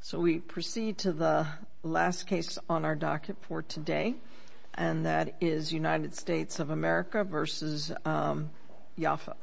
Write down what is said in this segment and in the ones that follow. So we proceed to the last case on our docket for today, and that is United States of America v. Yafa.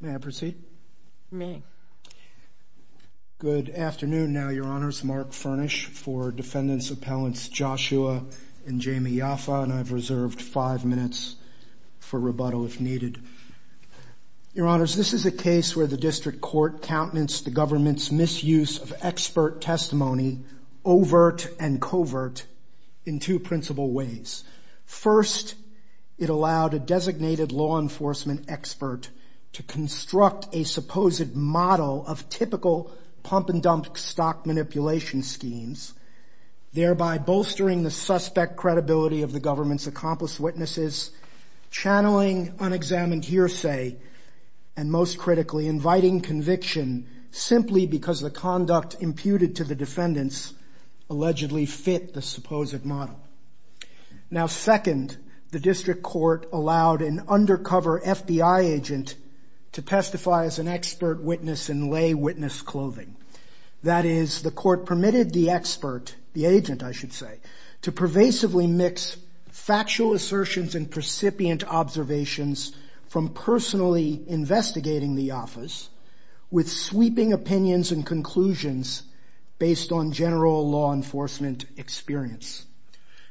May I proceed? Good afternoon now, Your Honors. Mark Furnish for Defendants Appellants Joshua and Jamie Yafa, and I've reserved five minutes for rebuttal if needed. Your Honors, this is a case where the district court countenance the government's misuse of expert testimony, overt and covert, in two principal ways. First, it allowed a designated law enforcement expert to construct a supposed model of typical pump-and-dump stock manipulation schemes, thereby bolstering the suspect credibility of the government's accomplice witnesses, channeling unexamined hearsay, and most critically, inviting conviction simply because the conduct imputed to the defendants allegedly fit the supposed model. Now, second, the district court allowed an undercover FBI agent to testify as an expert witness in lay witness clothing. That is, the court permitted the expert, the agent I should say, to pervasively mix factual assertions and precipient observations from personally investigating the office with sweeping opinions and conclusions based on general law enforcement experience.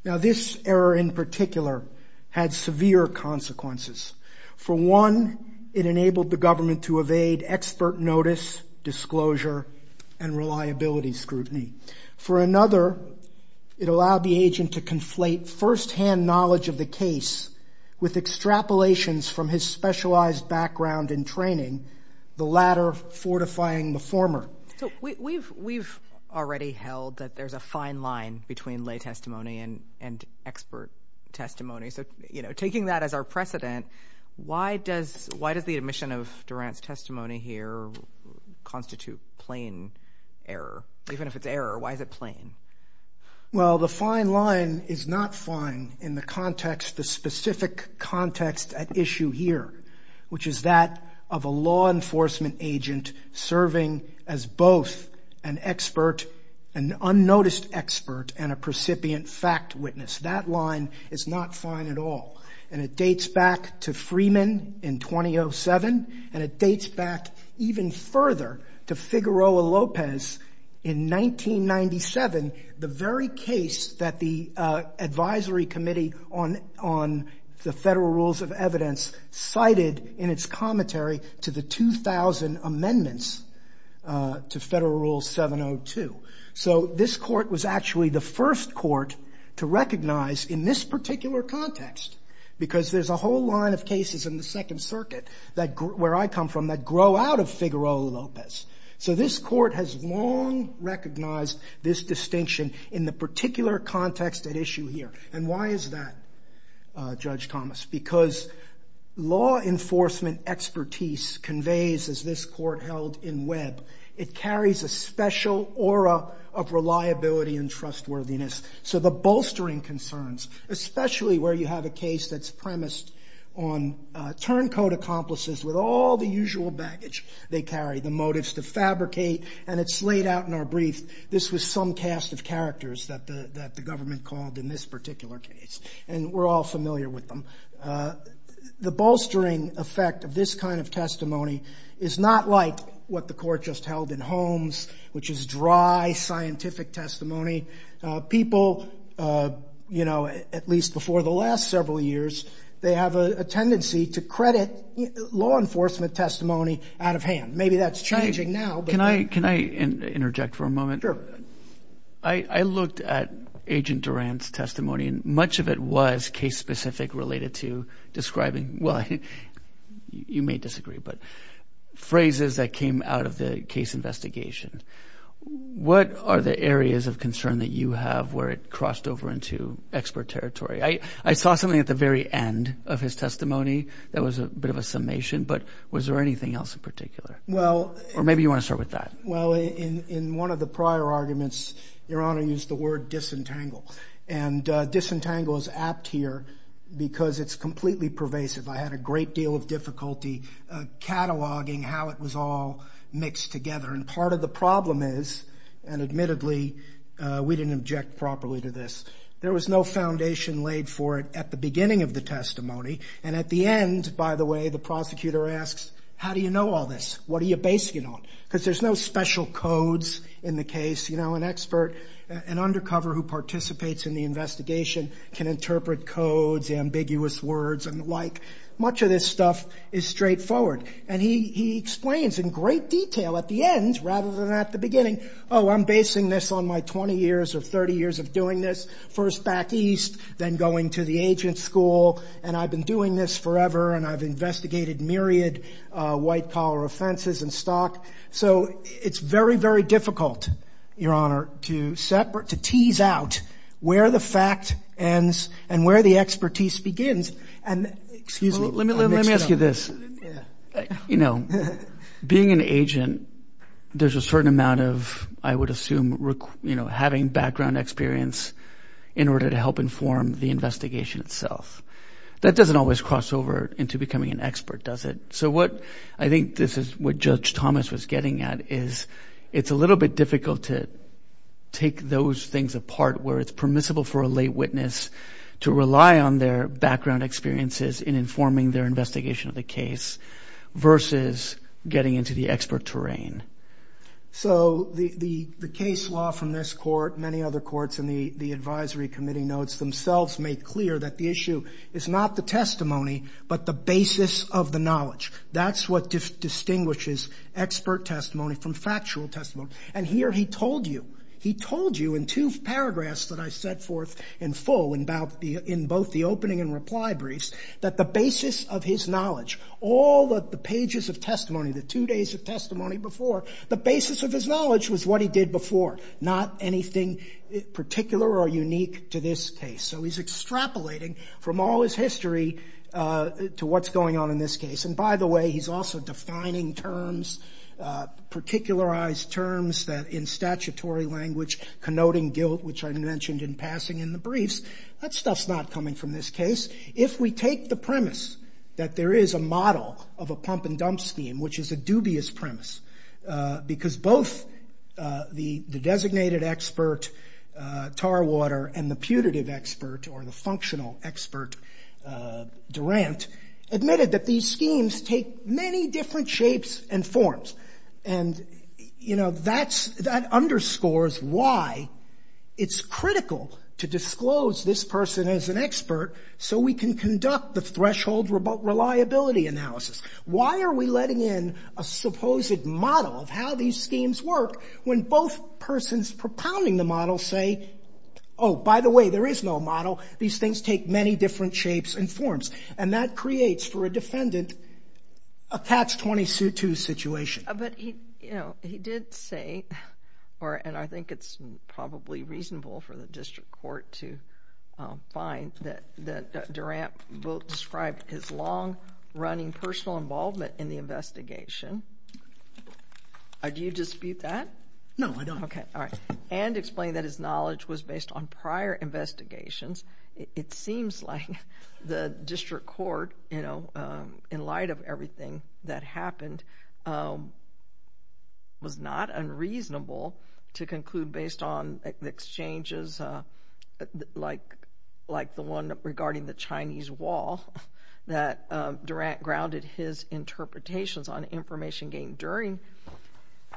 Now, this error in particular had severe consequences. For one, it enabled the government to evade expert notice, disclosure, and reliability scrutiny. For another, it allowed the agent to conflate firsthand knowledge of the case with extrapolations from his specialized background in training, the latter fortifying the former. So we've already held that there's a fine line between lay testimony and expert testimony. So, you know, taking that as our precedent, why does the admission of Durant's testimony here constitute plain error? Even if it's error, why is it plain? Well, the fine line is not fine in the context, the specific context at issue here, which is that of a law enforcement agent serving as both an expert, an unnoticed expert, and a precipient fact witness. That line is not fine at all. And it dates back to Freeman in 2007, and it dates back even further to Figueroa-Lopez in 1997, the very case that the Advisory Committee on the Federal Rules of Evidence cited in its commentary to the 2000 amendments to Federal Rule 702. So this court was actually the first court to recognize in this particular context, because there's a whole line of cases in the Second Circuit where I come from that grow out of Figueroa-Lopez. So this court has long recognized this distinction in the particular context at issue here. And why is that, Judge Thomas? Because law enforcement expertise conveys, as this court held in Webb, it carries a special aura of reliability and trustworthiness. So the bolstering concerns, especially where you have a case that's premised on turncoat accomplices with all the usual baggage they carry, the motives to fabricate, and it's laid out in our brief. This was some cast of characters that the government called in this particular case. And we're all familiar with them. The bolstering effect of this kind of testimony is not like what the court just held in Holmes, which is dry, scientific testimony. People, you know, at least before the last several years, they have a tendency to credit law enforcement testimony out of hand. Maybe that's changing now. Can I interject for a moment? Sure. I looked at Agent Duran's testimony, and much of it was case-specific related to describing, well, you may disagree, but phrases that came out of the case investigation. What are the areas of concern that you have where it crossed over into expert territory? I saw something at the very end of his testimony that was a bit of a summation, but was there anything else in particular? Or maybe you want to start with that. Well, in one of the prior arguments, Your Honor used the word disentangle. And disentangle is apt here because it's completely pervasive. I had a great deal of difficulty cataloging how it was all mixed together. And part of the problem is, and admittedly we didn't object properly to this, there was no foundation laid for it at the beginning of the testimony. And at the end, by the way, the prosecutor asks, how do you know all this? What are you basing it on? Because there's no special codes in the case. You know, an expert, an undercover who participates in the investigation can interpret codes, ambiguous words, and the like. Much of this stuff is straightforward. And he explains in great detail at the end rather than at the beginning, oh, I'm basing this on my 20 years or 30 years of doing this. First back east, then going to the agent school. And I've been doing this forever. And I've investigated myriad white-collar offenses in stock. So it's very, very difficult, Your Honor, to separate, to tease out where the fact ends and where the expertise begins. Excuse me. Let me ask you this. You know, being an agent, there's a certain amount of, I would assume, you know, having background experience in order to help inform the investigation itself. That doesn't always cross over into becoming an expert, does it? So what I think this is what Judge Thomas was getting at is it's a little bit difficult to take those things apart where it's permissible for a lay witness to rely on their background experiences in informing their investigation of the case versus getting into the expert terrain. So the case law from this court, many other courts, and the advisory committee notes themselves make clear that the issue is not the testimony but the basis of the knowledge. That's what distinguishes expert testimony from factual testimony. And here he told you. He told you in two paragraphs that I set forth in full in both the opening and reply briefs that the basis of his knowledge, all of the pages of testimony, the two days of testimony before, the basis of his knowledge was what he did before, not anything particular or unique to this case. So he's extrapolating from all his history to what's going on in this case. And by the way, he's also defining terms, particularized terms in statutory language connoting guilt, which I mentioned in passing in the briefs. That stuff's not coming from this case. If we take the premise that there is a model of a pump and dump scheme, which is a dubious premise, because both the designated expert, Tarwater, and the putative expert or the functional expert, Durant, admitted that these schemes take many different shapes and forms. And, you know, that underscores why it's critical to disclose this person as an expert so we can conduct the threshold reliability analysis. Why are we letting in a supposed model of how these schemes work when both persons propounding the model say, oh, by the way, there is no model. These things take many different shapes and forms. And that creates for a defendant a patch-20-sue-2 situation. But, you know, he did say, and I think it's probably reasonable for the district court to find, that Durant both described his long-running personal involvement in the investigation. Do you dispute that? No, I don't. Okay. And explained that his knowledge was based on prior investigations. It seems like the district court, you know, in light of everything that happened, was not unreasonable to conclude based on exchanges like the one regarding the Chinese wall that Durant grounded his interpretations on information gained during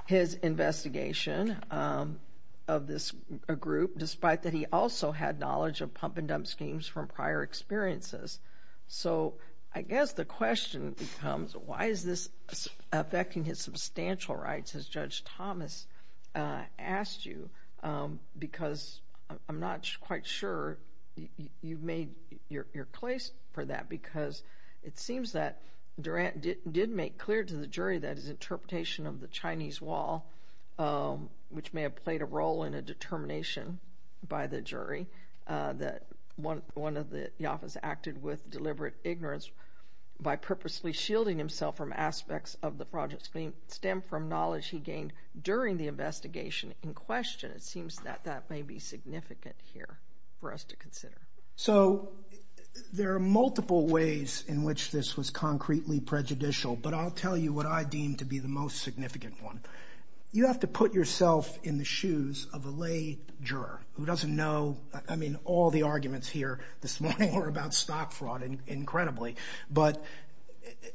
his investigation of this group, despite that he also had knowledge of pump and dump. Pump and dump schemes from prior experiences. So I guess the question becomes, why is this affecting his substantial rights, as Judge Thomas asked you, because I'm not quite sure you've made your case for that, because it seems that Durant did make clear to the jury that his interpretation of the Chinese wall, which may have played a role in a determination by the jury, that one of the office acted with deliberate ignorance by purposely shielding himself from aspects of the project scheme, stemmed from knowledge he gained during the investigation in question. It seems that that may be significant here for us to consider. So there are multiple ways in which this was concretely prejudicial, but I'll tell you what I deem to be the most significant one. You have to put yourself in the shoes of a lay juror who doesn't know, I mean, all the arguments here this morning were about stock fraud incredibly, but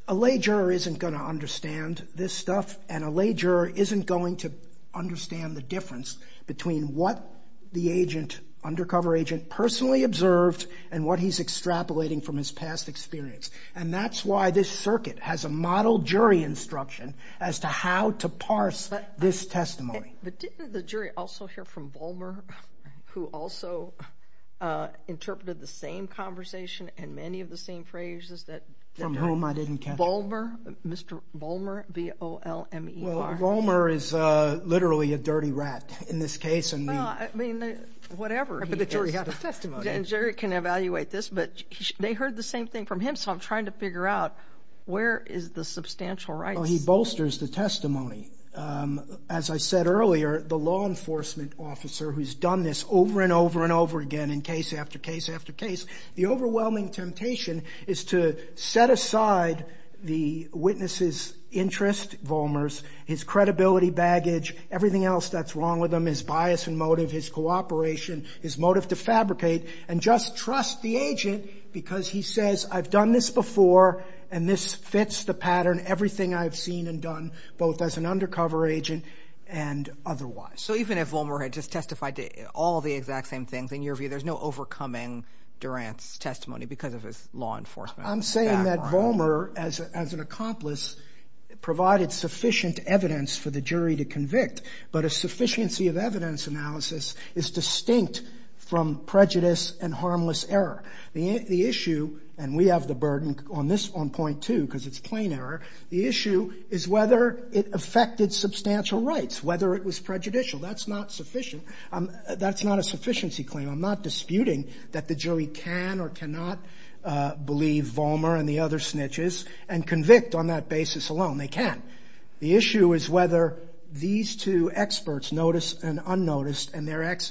a lay juror isn't going to understand this stuff, and a lay juror isn't going to understand the difference between what the undercover agent personally observed and what he's extrapolating from his past experience. And that's why this circuit has a model jury instruction as to how to parse this testimony. But didn't the jury also hear from Volmer, who also interpreted the same conversation and many of the same phrases that Durant... From whom I didn't catch. Volmer, Mr. Volmer, V-O-L-M-E-R. Well, Volmer is literally a dirty rat in this case, and we... Well, I mean, whatever he is... But the jury had the testimony. The jury can evaluate this, but they heard the same thing from him, so I'm trying to figure out where is the substantial right... Well, he bolsters the testimony. As I said earlier, the law enforcement officer who's done this over and over and over again in case after case after case, the overwhelming temptation is to set aside the witness's interest, Volmer's, his credibility baggage, everything else that's wrong with him, his bias and motive, his cooperation, his motive to fabricate, and just trust the agent because he says, I've done this before, and this fits the pattern, everything I've seen and done, both as an undercover agent and otherwise. So even if Volmer had just testified to all the exact same things, in your view, there's no overcoming Durant's testimony because of his law enforcement background? I'm saying that Volmer, as an accomplice, provided sufficient evidence for the jury to convict, but a sufficiency of evidence analysis is distinct from prejudice and harmless error. The issue, and we have the burden on point two because it's plain error, the issue is whether it affected substantial rights, whether it was prejudicial. That's not sufficient. That's not a sufficiency claim. I'm not disputing that the jury can or cannot believe Volmer and the other snitches and convict on that basis alone. They can. The issue is whether these two experts, noticed and unnoticed, and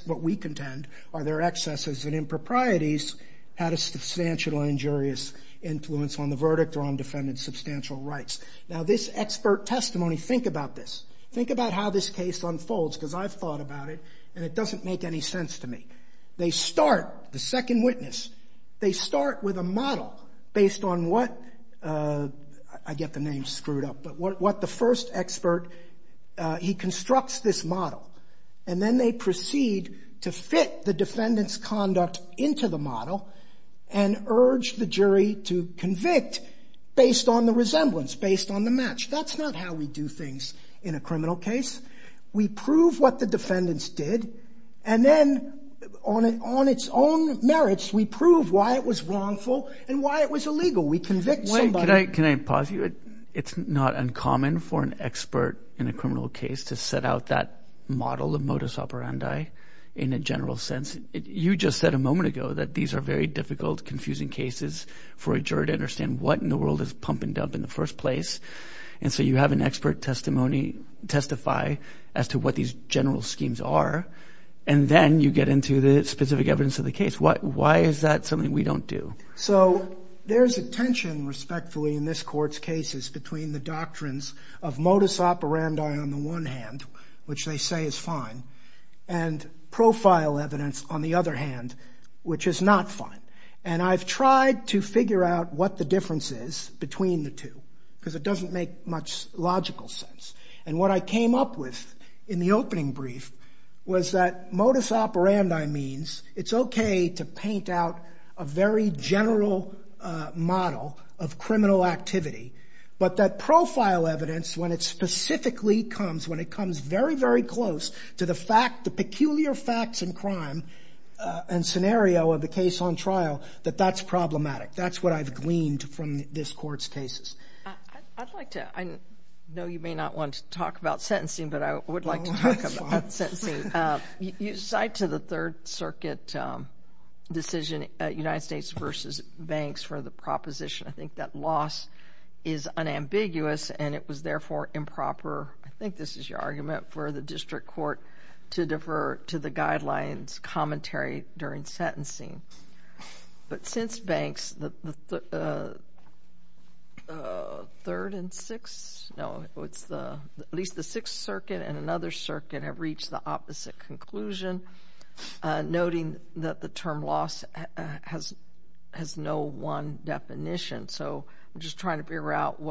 what we contend are their excesses and improprieties, had a substantial injurious influence on the verdict or on defendant's substantial rights. Now, this expert testimony, think about this. Think about how this case unfolds because I've thought about it and it doesn't make any sense to me. They start, the second witness, they start with a model based on what, I get the name screwed up, but what the first expert, he constructs this model. And then they proceed to fit the defendant's conduct into the model and urge the jury to convict based on the resemblance, based on the match. That's not how we do things in a criminal case. We prove what the defendants did and then on its own merits, we prove why it was wrongful and why it was illegal. We convict somebody. Can I pause you? It's not uncommon for an expert in a criminal case to set out that model of modus operandi in a general sense. You just said a moment ago that these are very difficult, confusing cases for a jury to understand what in the world is pump and dump in the first place. And so you have an expert testimony testify as to what these general schemes are. And then you get into the specific evidence of the case. Why is that something we don't do? So there's a tension, respectfully, in this court's cases between the doctrines of modus operandi on the one hand, which they say is fine, and profile evidence on the other hand, which is not fine. And I've tried to figure out what the difference is between the two because it doesn't make much logical sense. And what I came up with in the opening brief was that modus operandi means it's okay to paint out a very general model of criminal activity, but that profile evidence, when it specifically comes, when it comes very, very close to the peculiar facts and crime and scenario of the case on trial, that that's problematic. That's what I've gleaned from this court's cases. I know you may not want to talk about sentencing, but I would like to talk about sentencing. You cite to the Third Circuit decision, United States v. Banks, for the proposition. I think that loss is unambiguous, and it was, therefore, improper. I think this is your argument for the district court to defer to the guidelines commentary during sentencing. But since Banks, the Third and Sixth, no, at least the Sixth Circuit and another circuit have reached the opposite conclusion, noting that the term loss has no one definition. So I'm just trying to figure out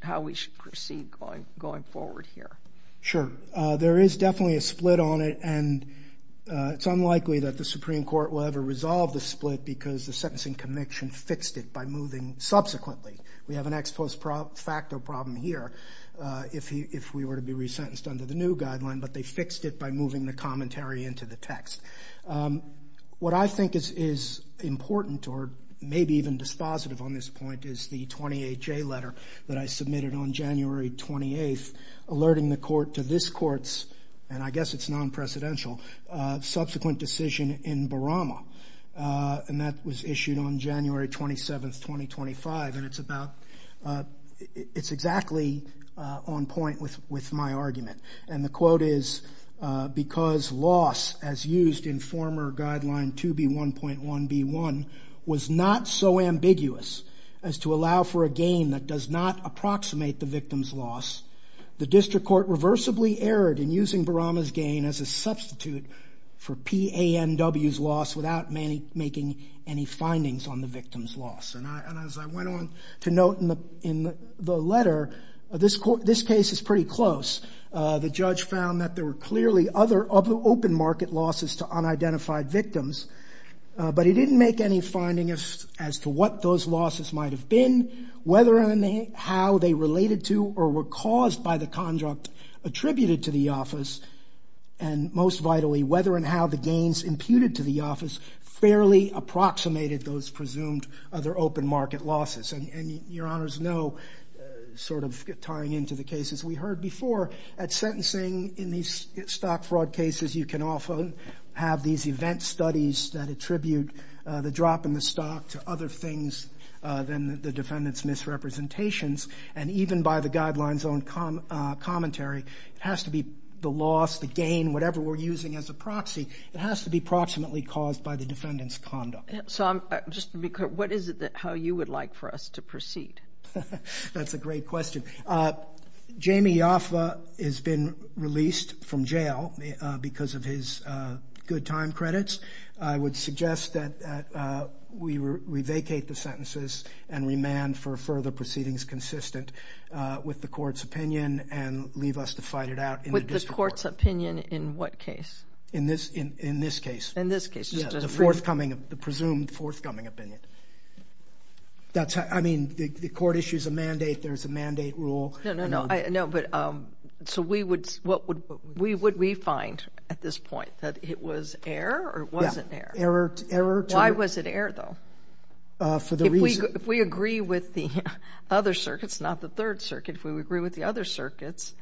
how we should proceed going forward here. Sure. There is definitely a split on it, and it's unlikely that the Supreme Court will ever resolve the split because the sentencing conviction fixed it by moving subsequently. We have an ex post facto problem here if we were to be resentenced under the new guideline, but they fixed it by moving the commentary into the text. What I think is important or maybe even dispositive on this point is the 28J letter that I submitted on January 28, alerting the court to this court's, and I guess it's non-presidential, subsequent decision in Barama. And that was issued on January 27, 2025, and it's exactly on point with my argument. And the quote is, because loss, as used in former guideline 2B1.1B1, was not so ambiguous as to allow for a gain that does not approximate the victim's loss, the district court reversibly erred in using Barama's gain as a substitute for PANW's loss without making any findings on the victim's loss. And as I went on to note in the letter, this case is pretty close. The judge found that there were clearly other open market losses to unidentified victims, but he didn't make any findings as to what those losses might have been, whether and how they related to or were caused by the conduct attributed to the office, and most vitally, whether and how the gains imputed to the office fairly approximated those presumed other open market losses. And your honors know, sort of tying into the cases we heard before, at sentencing in these stock fraud cases, you can often have these event studies that attribute the drop in the stock to other things than the defendant's misrepresentations. And even by the guideline's own commentary, it has to be the loss, the gain, whatever we're using as a proxy, it has to be approximately caused by the defendant's conduct. So just to be clear, what is it how you would like for us to proceed? That's a great question. Jamie Yoffa has been released from jail because of his good time credits. I would suggest that we revacate the sentences and remand for further proceedings consistent with the court's opinion and leave us to fight it out in the district court. The court's opinion in what case? In this case. In this case. The presumed forthcoming opinion. I mean, the court issues a mandate, there's a mandate rule. No, no, no. So what would we find at this point? That it was error or it wasn't error? Error. Why was it error, though? If we agree with the other circuits, not the Third Circuit, if we agree with the other circuits,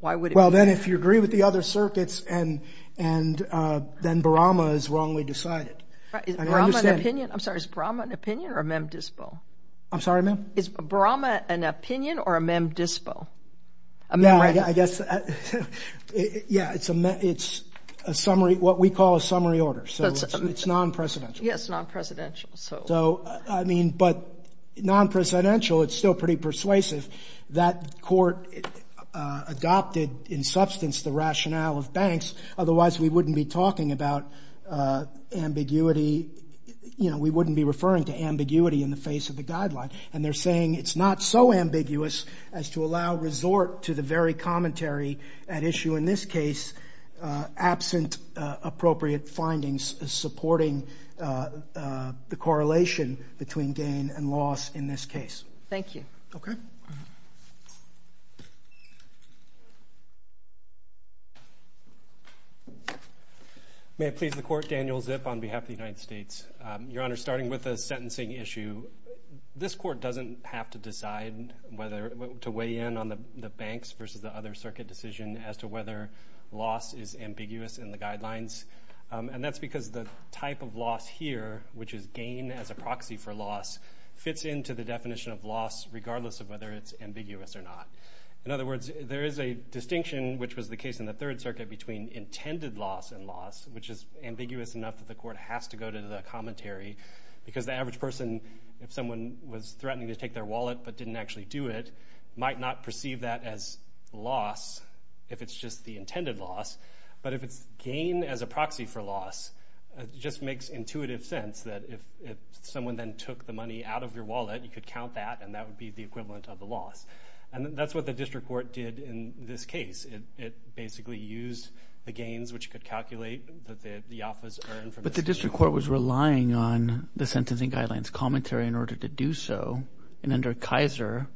why would it be error? Well, then if you agree with the other circuits, then Barama is wrongly decided. Is Barama an opinion? I'm sorry, is Barama an opinion or a mem dispo? I'm sorry, ma'am? Is Barama an opinion or a mem dispo? Yeah, I guess, yeah, it's a summary, what we call a summary order. So it's non-presidential. Yes, non-presidential. So, I mean, but non-presidential, it's still pretty persuasive. That court adopted in substance the rationale of banks. Otherwise, we wouldn't be talking about ambiguity, you know, we wouldn't be referring to ambiguity in the face of the guideline. And they're saying it's not so ambiguous as to allow resort to the very commentary at issue in this case, absent appropriate findings supporting the correlation between gain and loss in this case. Thank you. Okay. May it please the Court, Daniel Zip on behalf of the United States. Your Honor, starting with the sentencing issue, this court doesn't have to decide whether to weigh in on the banks versus the other circuit decision as to whether loss is ambiguous in the guidelines. And that's because the type of loss here, which is gain as a proxy for loss, fits into the definition of loss regardless of whether it's ambiguous or not. In other words, there is a distinction, which was the case in the Third Circuit, between intended loss and loss, which is ambiguous enough that the court has to go to the commentary because the average person, if someone was threatening to take their wallet but didn't actually do it, might not perceive that as loss if it's just the intended loss. But if it's gain as a proxy for loss, it just makes intuitive sense that if someone then took the money out of your wallet, you could count that and that would be the equivalent of the loss. And that's what the district court did in this case. It basically used the gains, which could calculate that the office earned from this case. But the district court was relying on the sentencing guidelines commentary in order to do so. And under Kaiser,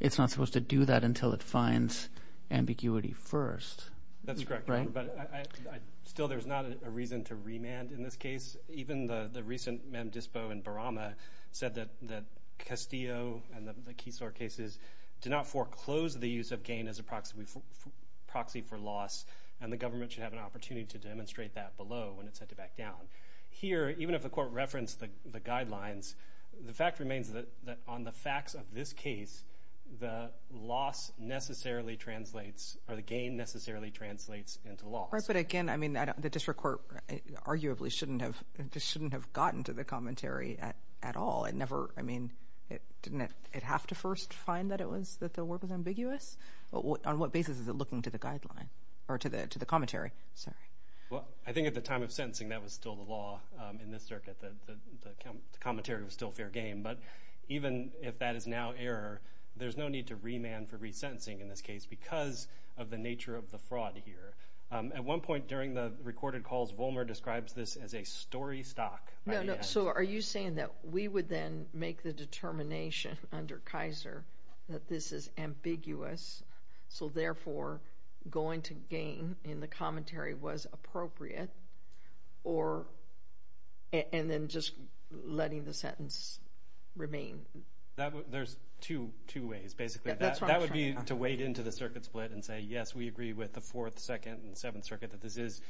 it's not supposed to do that until it finds ambiguity first. That's correct, Your Honor. But still, there's not a reason to remand in this case. Even the recent Mem Dispo in Barama said that Castillo and the Keysore cases did not foreclose the use of gain as a proxy for loss, and the government should have an opportunity to demonstrate that below when it's set to back down. Here, even if the court referenced the guidelines, the fact remains that on the facts of this case, the loss necessarily translates or the gain necessarily translates into loss. Right, but again, I mean, the district court arguably shouldn't have gotten to the commentary at all. I mean, didn't it have to first find that the work was ambiguous? On what basis is it looking to the guideline or to the commentary? Well, I think at the time of sentencing, that was still the law in this circuit. The commentary was still fair game. But even if that is now error, there's no need to remand for resentencing in this case because of the nature of the fraud here. At one point during the recorded calls, Vollmer describes this as a story stock. So are you saying that we would then make the determination under Kaiser that this is ambiguous, so therefore going to gain in the commentary was appropriate, and then just letting the sentence remain? There's two ways, basically. That would be to wade into the circuit split and say, yes, we agree with the Fourth, Second, and Seventh Circuit that this is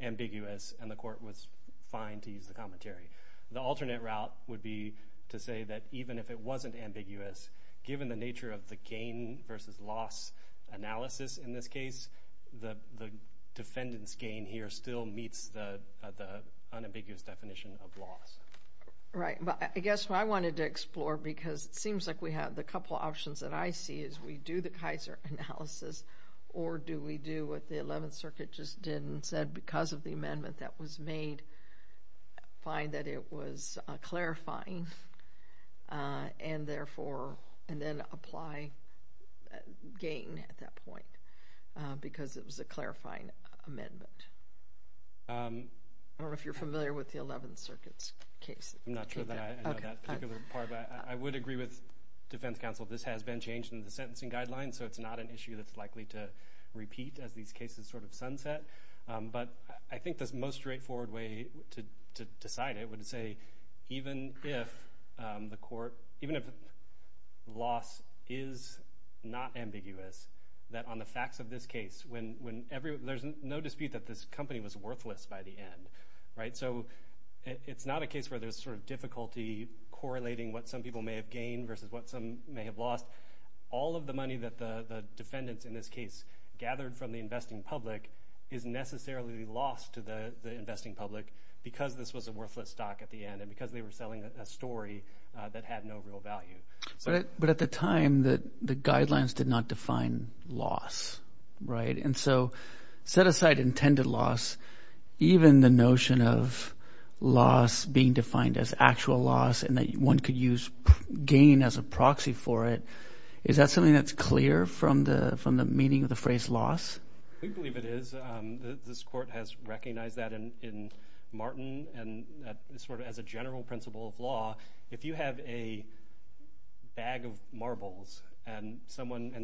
ambiguous, and the court was fine to use the commentary. The alternate route would be to say that even if it wasn't ambiguous, given the nature of the gain versus loss analysis in this case, the defendant's gain here still meets the unambiguous definition of loss. Right, but I guess what I wanted to explore, because it seems like we have a couple of options that I see, is we do the Kaiser analysis, or do we do what the Eleventh Circuit just did and said because of the amendment that was made, find that it was clarifying, and then apply gain at that point because it was a clarifying amendment? I don't know if you're familiar with the Eleventh Circuit's case. I'm not sure that I know that particular part, but I would agree with defense counsel. This has been changed in the sentencing guidelines, so it's not an issue that's likely to repeat as these cases sort of sunset, but I think the most straightforward way to decide it would say even if loss is not ambiguous, that on the facts of this case, there's no dispute that this company was worthless by the end. So it's not a case where there's sort of difficulty correlating what some people may have gained versus what some may have lost. All of the money that the defendants in this case gathered from the investing public is necessarily lost to the investing public because this was a worthless stock at the end and because they were selling a story that had no real value. But at the time, the guidelines did not define loss, right? And so set aside intended loss, even the notion of loss being defined as actual loss and that one could use gain as a proxy for it, is that something that's clear from the meaning of the phrase loss? We believe it is. This court has recognized that in Martin and sort of as a general principle of law. If you have a bag of marbles and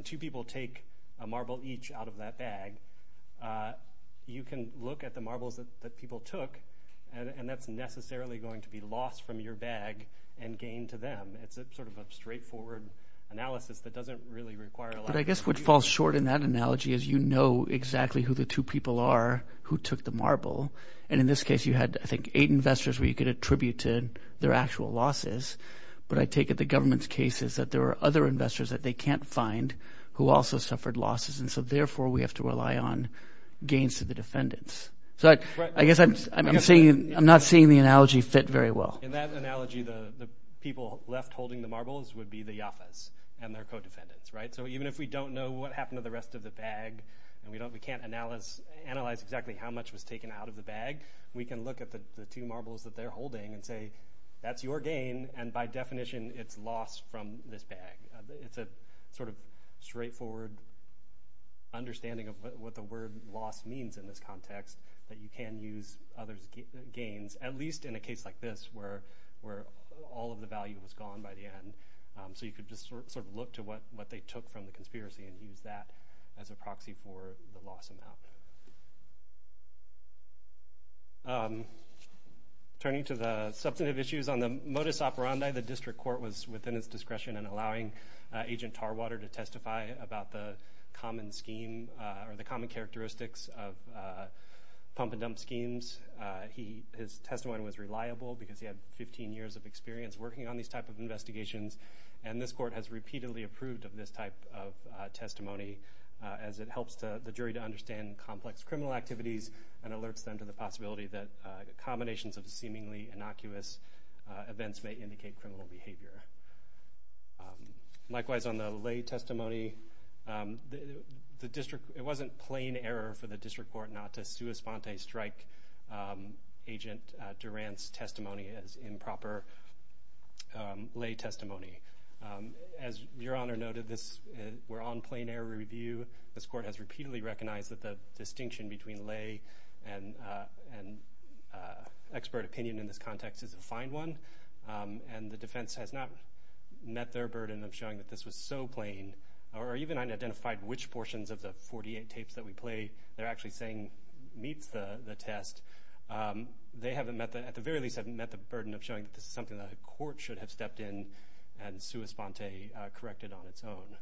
two people take a marble each out of that bag, you can look at the marbles that people took and that's necessarily going to be lost from your bag and gained to them. It's sort of a straightforward analysis that doesn't really require a lot of… I guess what falls short in that analogy is you know exactly who the two people are who took the marble. And in this case, you had I think eight investors where you could attribute to their actual losses. But I take it the government's case is that there are other investors that they can't find who also suffered losses and so therefore we have to rely on gains to the defendants. So I guess I'm not seeing the analogy fit very well. In that analogy, the people left holding the marbles would be the Yafas and their co-defendants, right? So even if we don't know what happened to the rest of the bag and we can't analyze exactly how much was taken out of the bag, we can look at the two marbles that they're holding and say that's your gain and by definition it's loss from this bag. It's a sort of straightforward understanding of what the word loss means in this context that you can use others' gains at least in a case like this where all of the value was gone by the end. So you could just sort of look to what they took from the conspiracy and use that as a proxy for the loss amount. Turning to the substantive issues on the modus operandi, the district court was within its discretion in allowing Agent Tarwater to testify about the common scheme or the common characteristics of pump and dump schemes. His testimony was reliable because he had 15 years of experience working on these type of investigations, and this court has repeatedly approved of this type of testimony as it helps the jury to understand complex criminal activities and alerts them to the possibility that combinations of seemingly innocuous events may indicate criminal behavior. Likewise on the lay testimony, it wasn't plain error for the district court not to sua sponte strike Agent Durant's testimony as improper lay testimony. As Your Honor noted, we're on plain error review. This court has repeatedly recognized that the distinction between lay and expert opinion in this context is a fine one, and the defense has not met their burden of showing that this was so plain or even unidentified which portions of the 48 tapes that we play. They're actually saying meets the test. They at the very least haven't met the burden of showing that this is something that a court should have stepped in and sua sponte corrected on its own.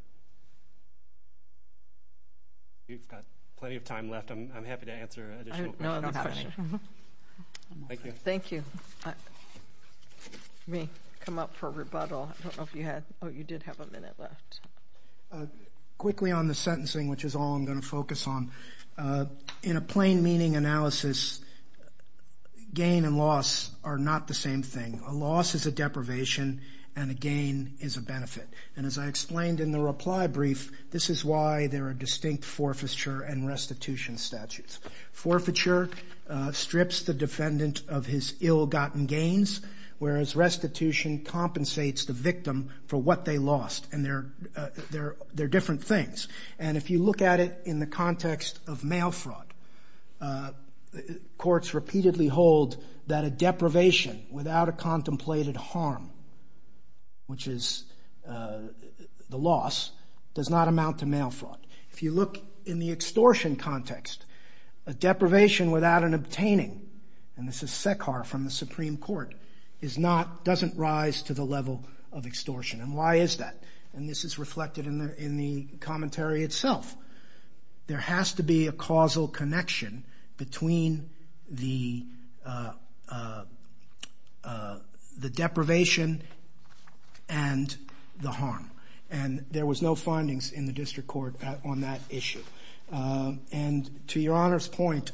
We've got plenty of time left. I'm happy to answer additional questions. I have no other questions. Thank you. Thank you. You may come up for rebuttal. Oh, you did have a minute left. Quickly on the sentencing, which is all I'm going to focus on. In a plain meaning analysis, gain and loss are not the same thing. A loss is a deprivation and a gain is a benefit. And as I explained in the reply brief, this is why there are distinct forfeiture and restitution statutes. Forfeiture strips the defendant of his ill-gotten gains, whereas restitution compensates the victim for what they lost and they're different things. And if you look at it in the context of mail fraud, courts repeatedly hold that a deprivation without a contemplated harm, which is the loss, does not amount to mail fraud. If you look in the extortion context, a deprivation without an obtaining, and this is SECAR from the Supreme Court, doesn't rise to the level of extortion. And why is that? And this is reflected in the commentary itself. There has to be a causal connection between the deprivation and the harm. And there was no findings in the district court on that issue. And to Your Honor's point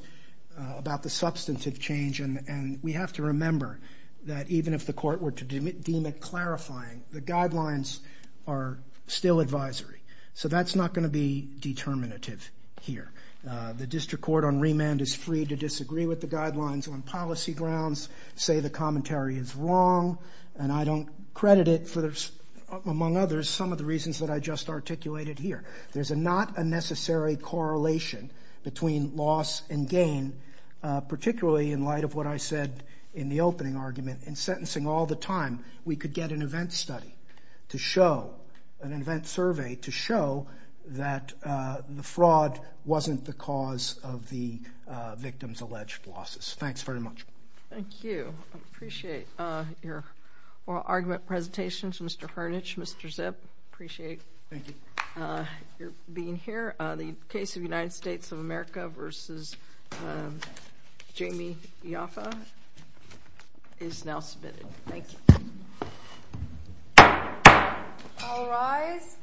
about the substantive change, and we have to remember that even if the court were to deem it clarifying, the guidelines are still advisory. So that's not going to be determinative here. The district court on remand is free to disagree with the guidelines on policy grounds, say the commentary is wrong, and I don't credit it, among others, some of the reasons that I just articulated here. There's not a necessary correlation between loss and gain, particularly in light of what I said in the opening argument. In sentencing all the time, we could get an event study to show, an event survey to show that the fraud wasn't the cause of the victim's alleged losses. Thanks very much. Thank you. I appreciate your oral argument presentations, Mr. Hernich, Mr. Zipp. I appreciate your being here. The case of United States of America v. Jamie Ioffe is now submitted. Thank you. All rise.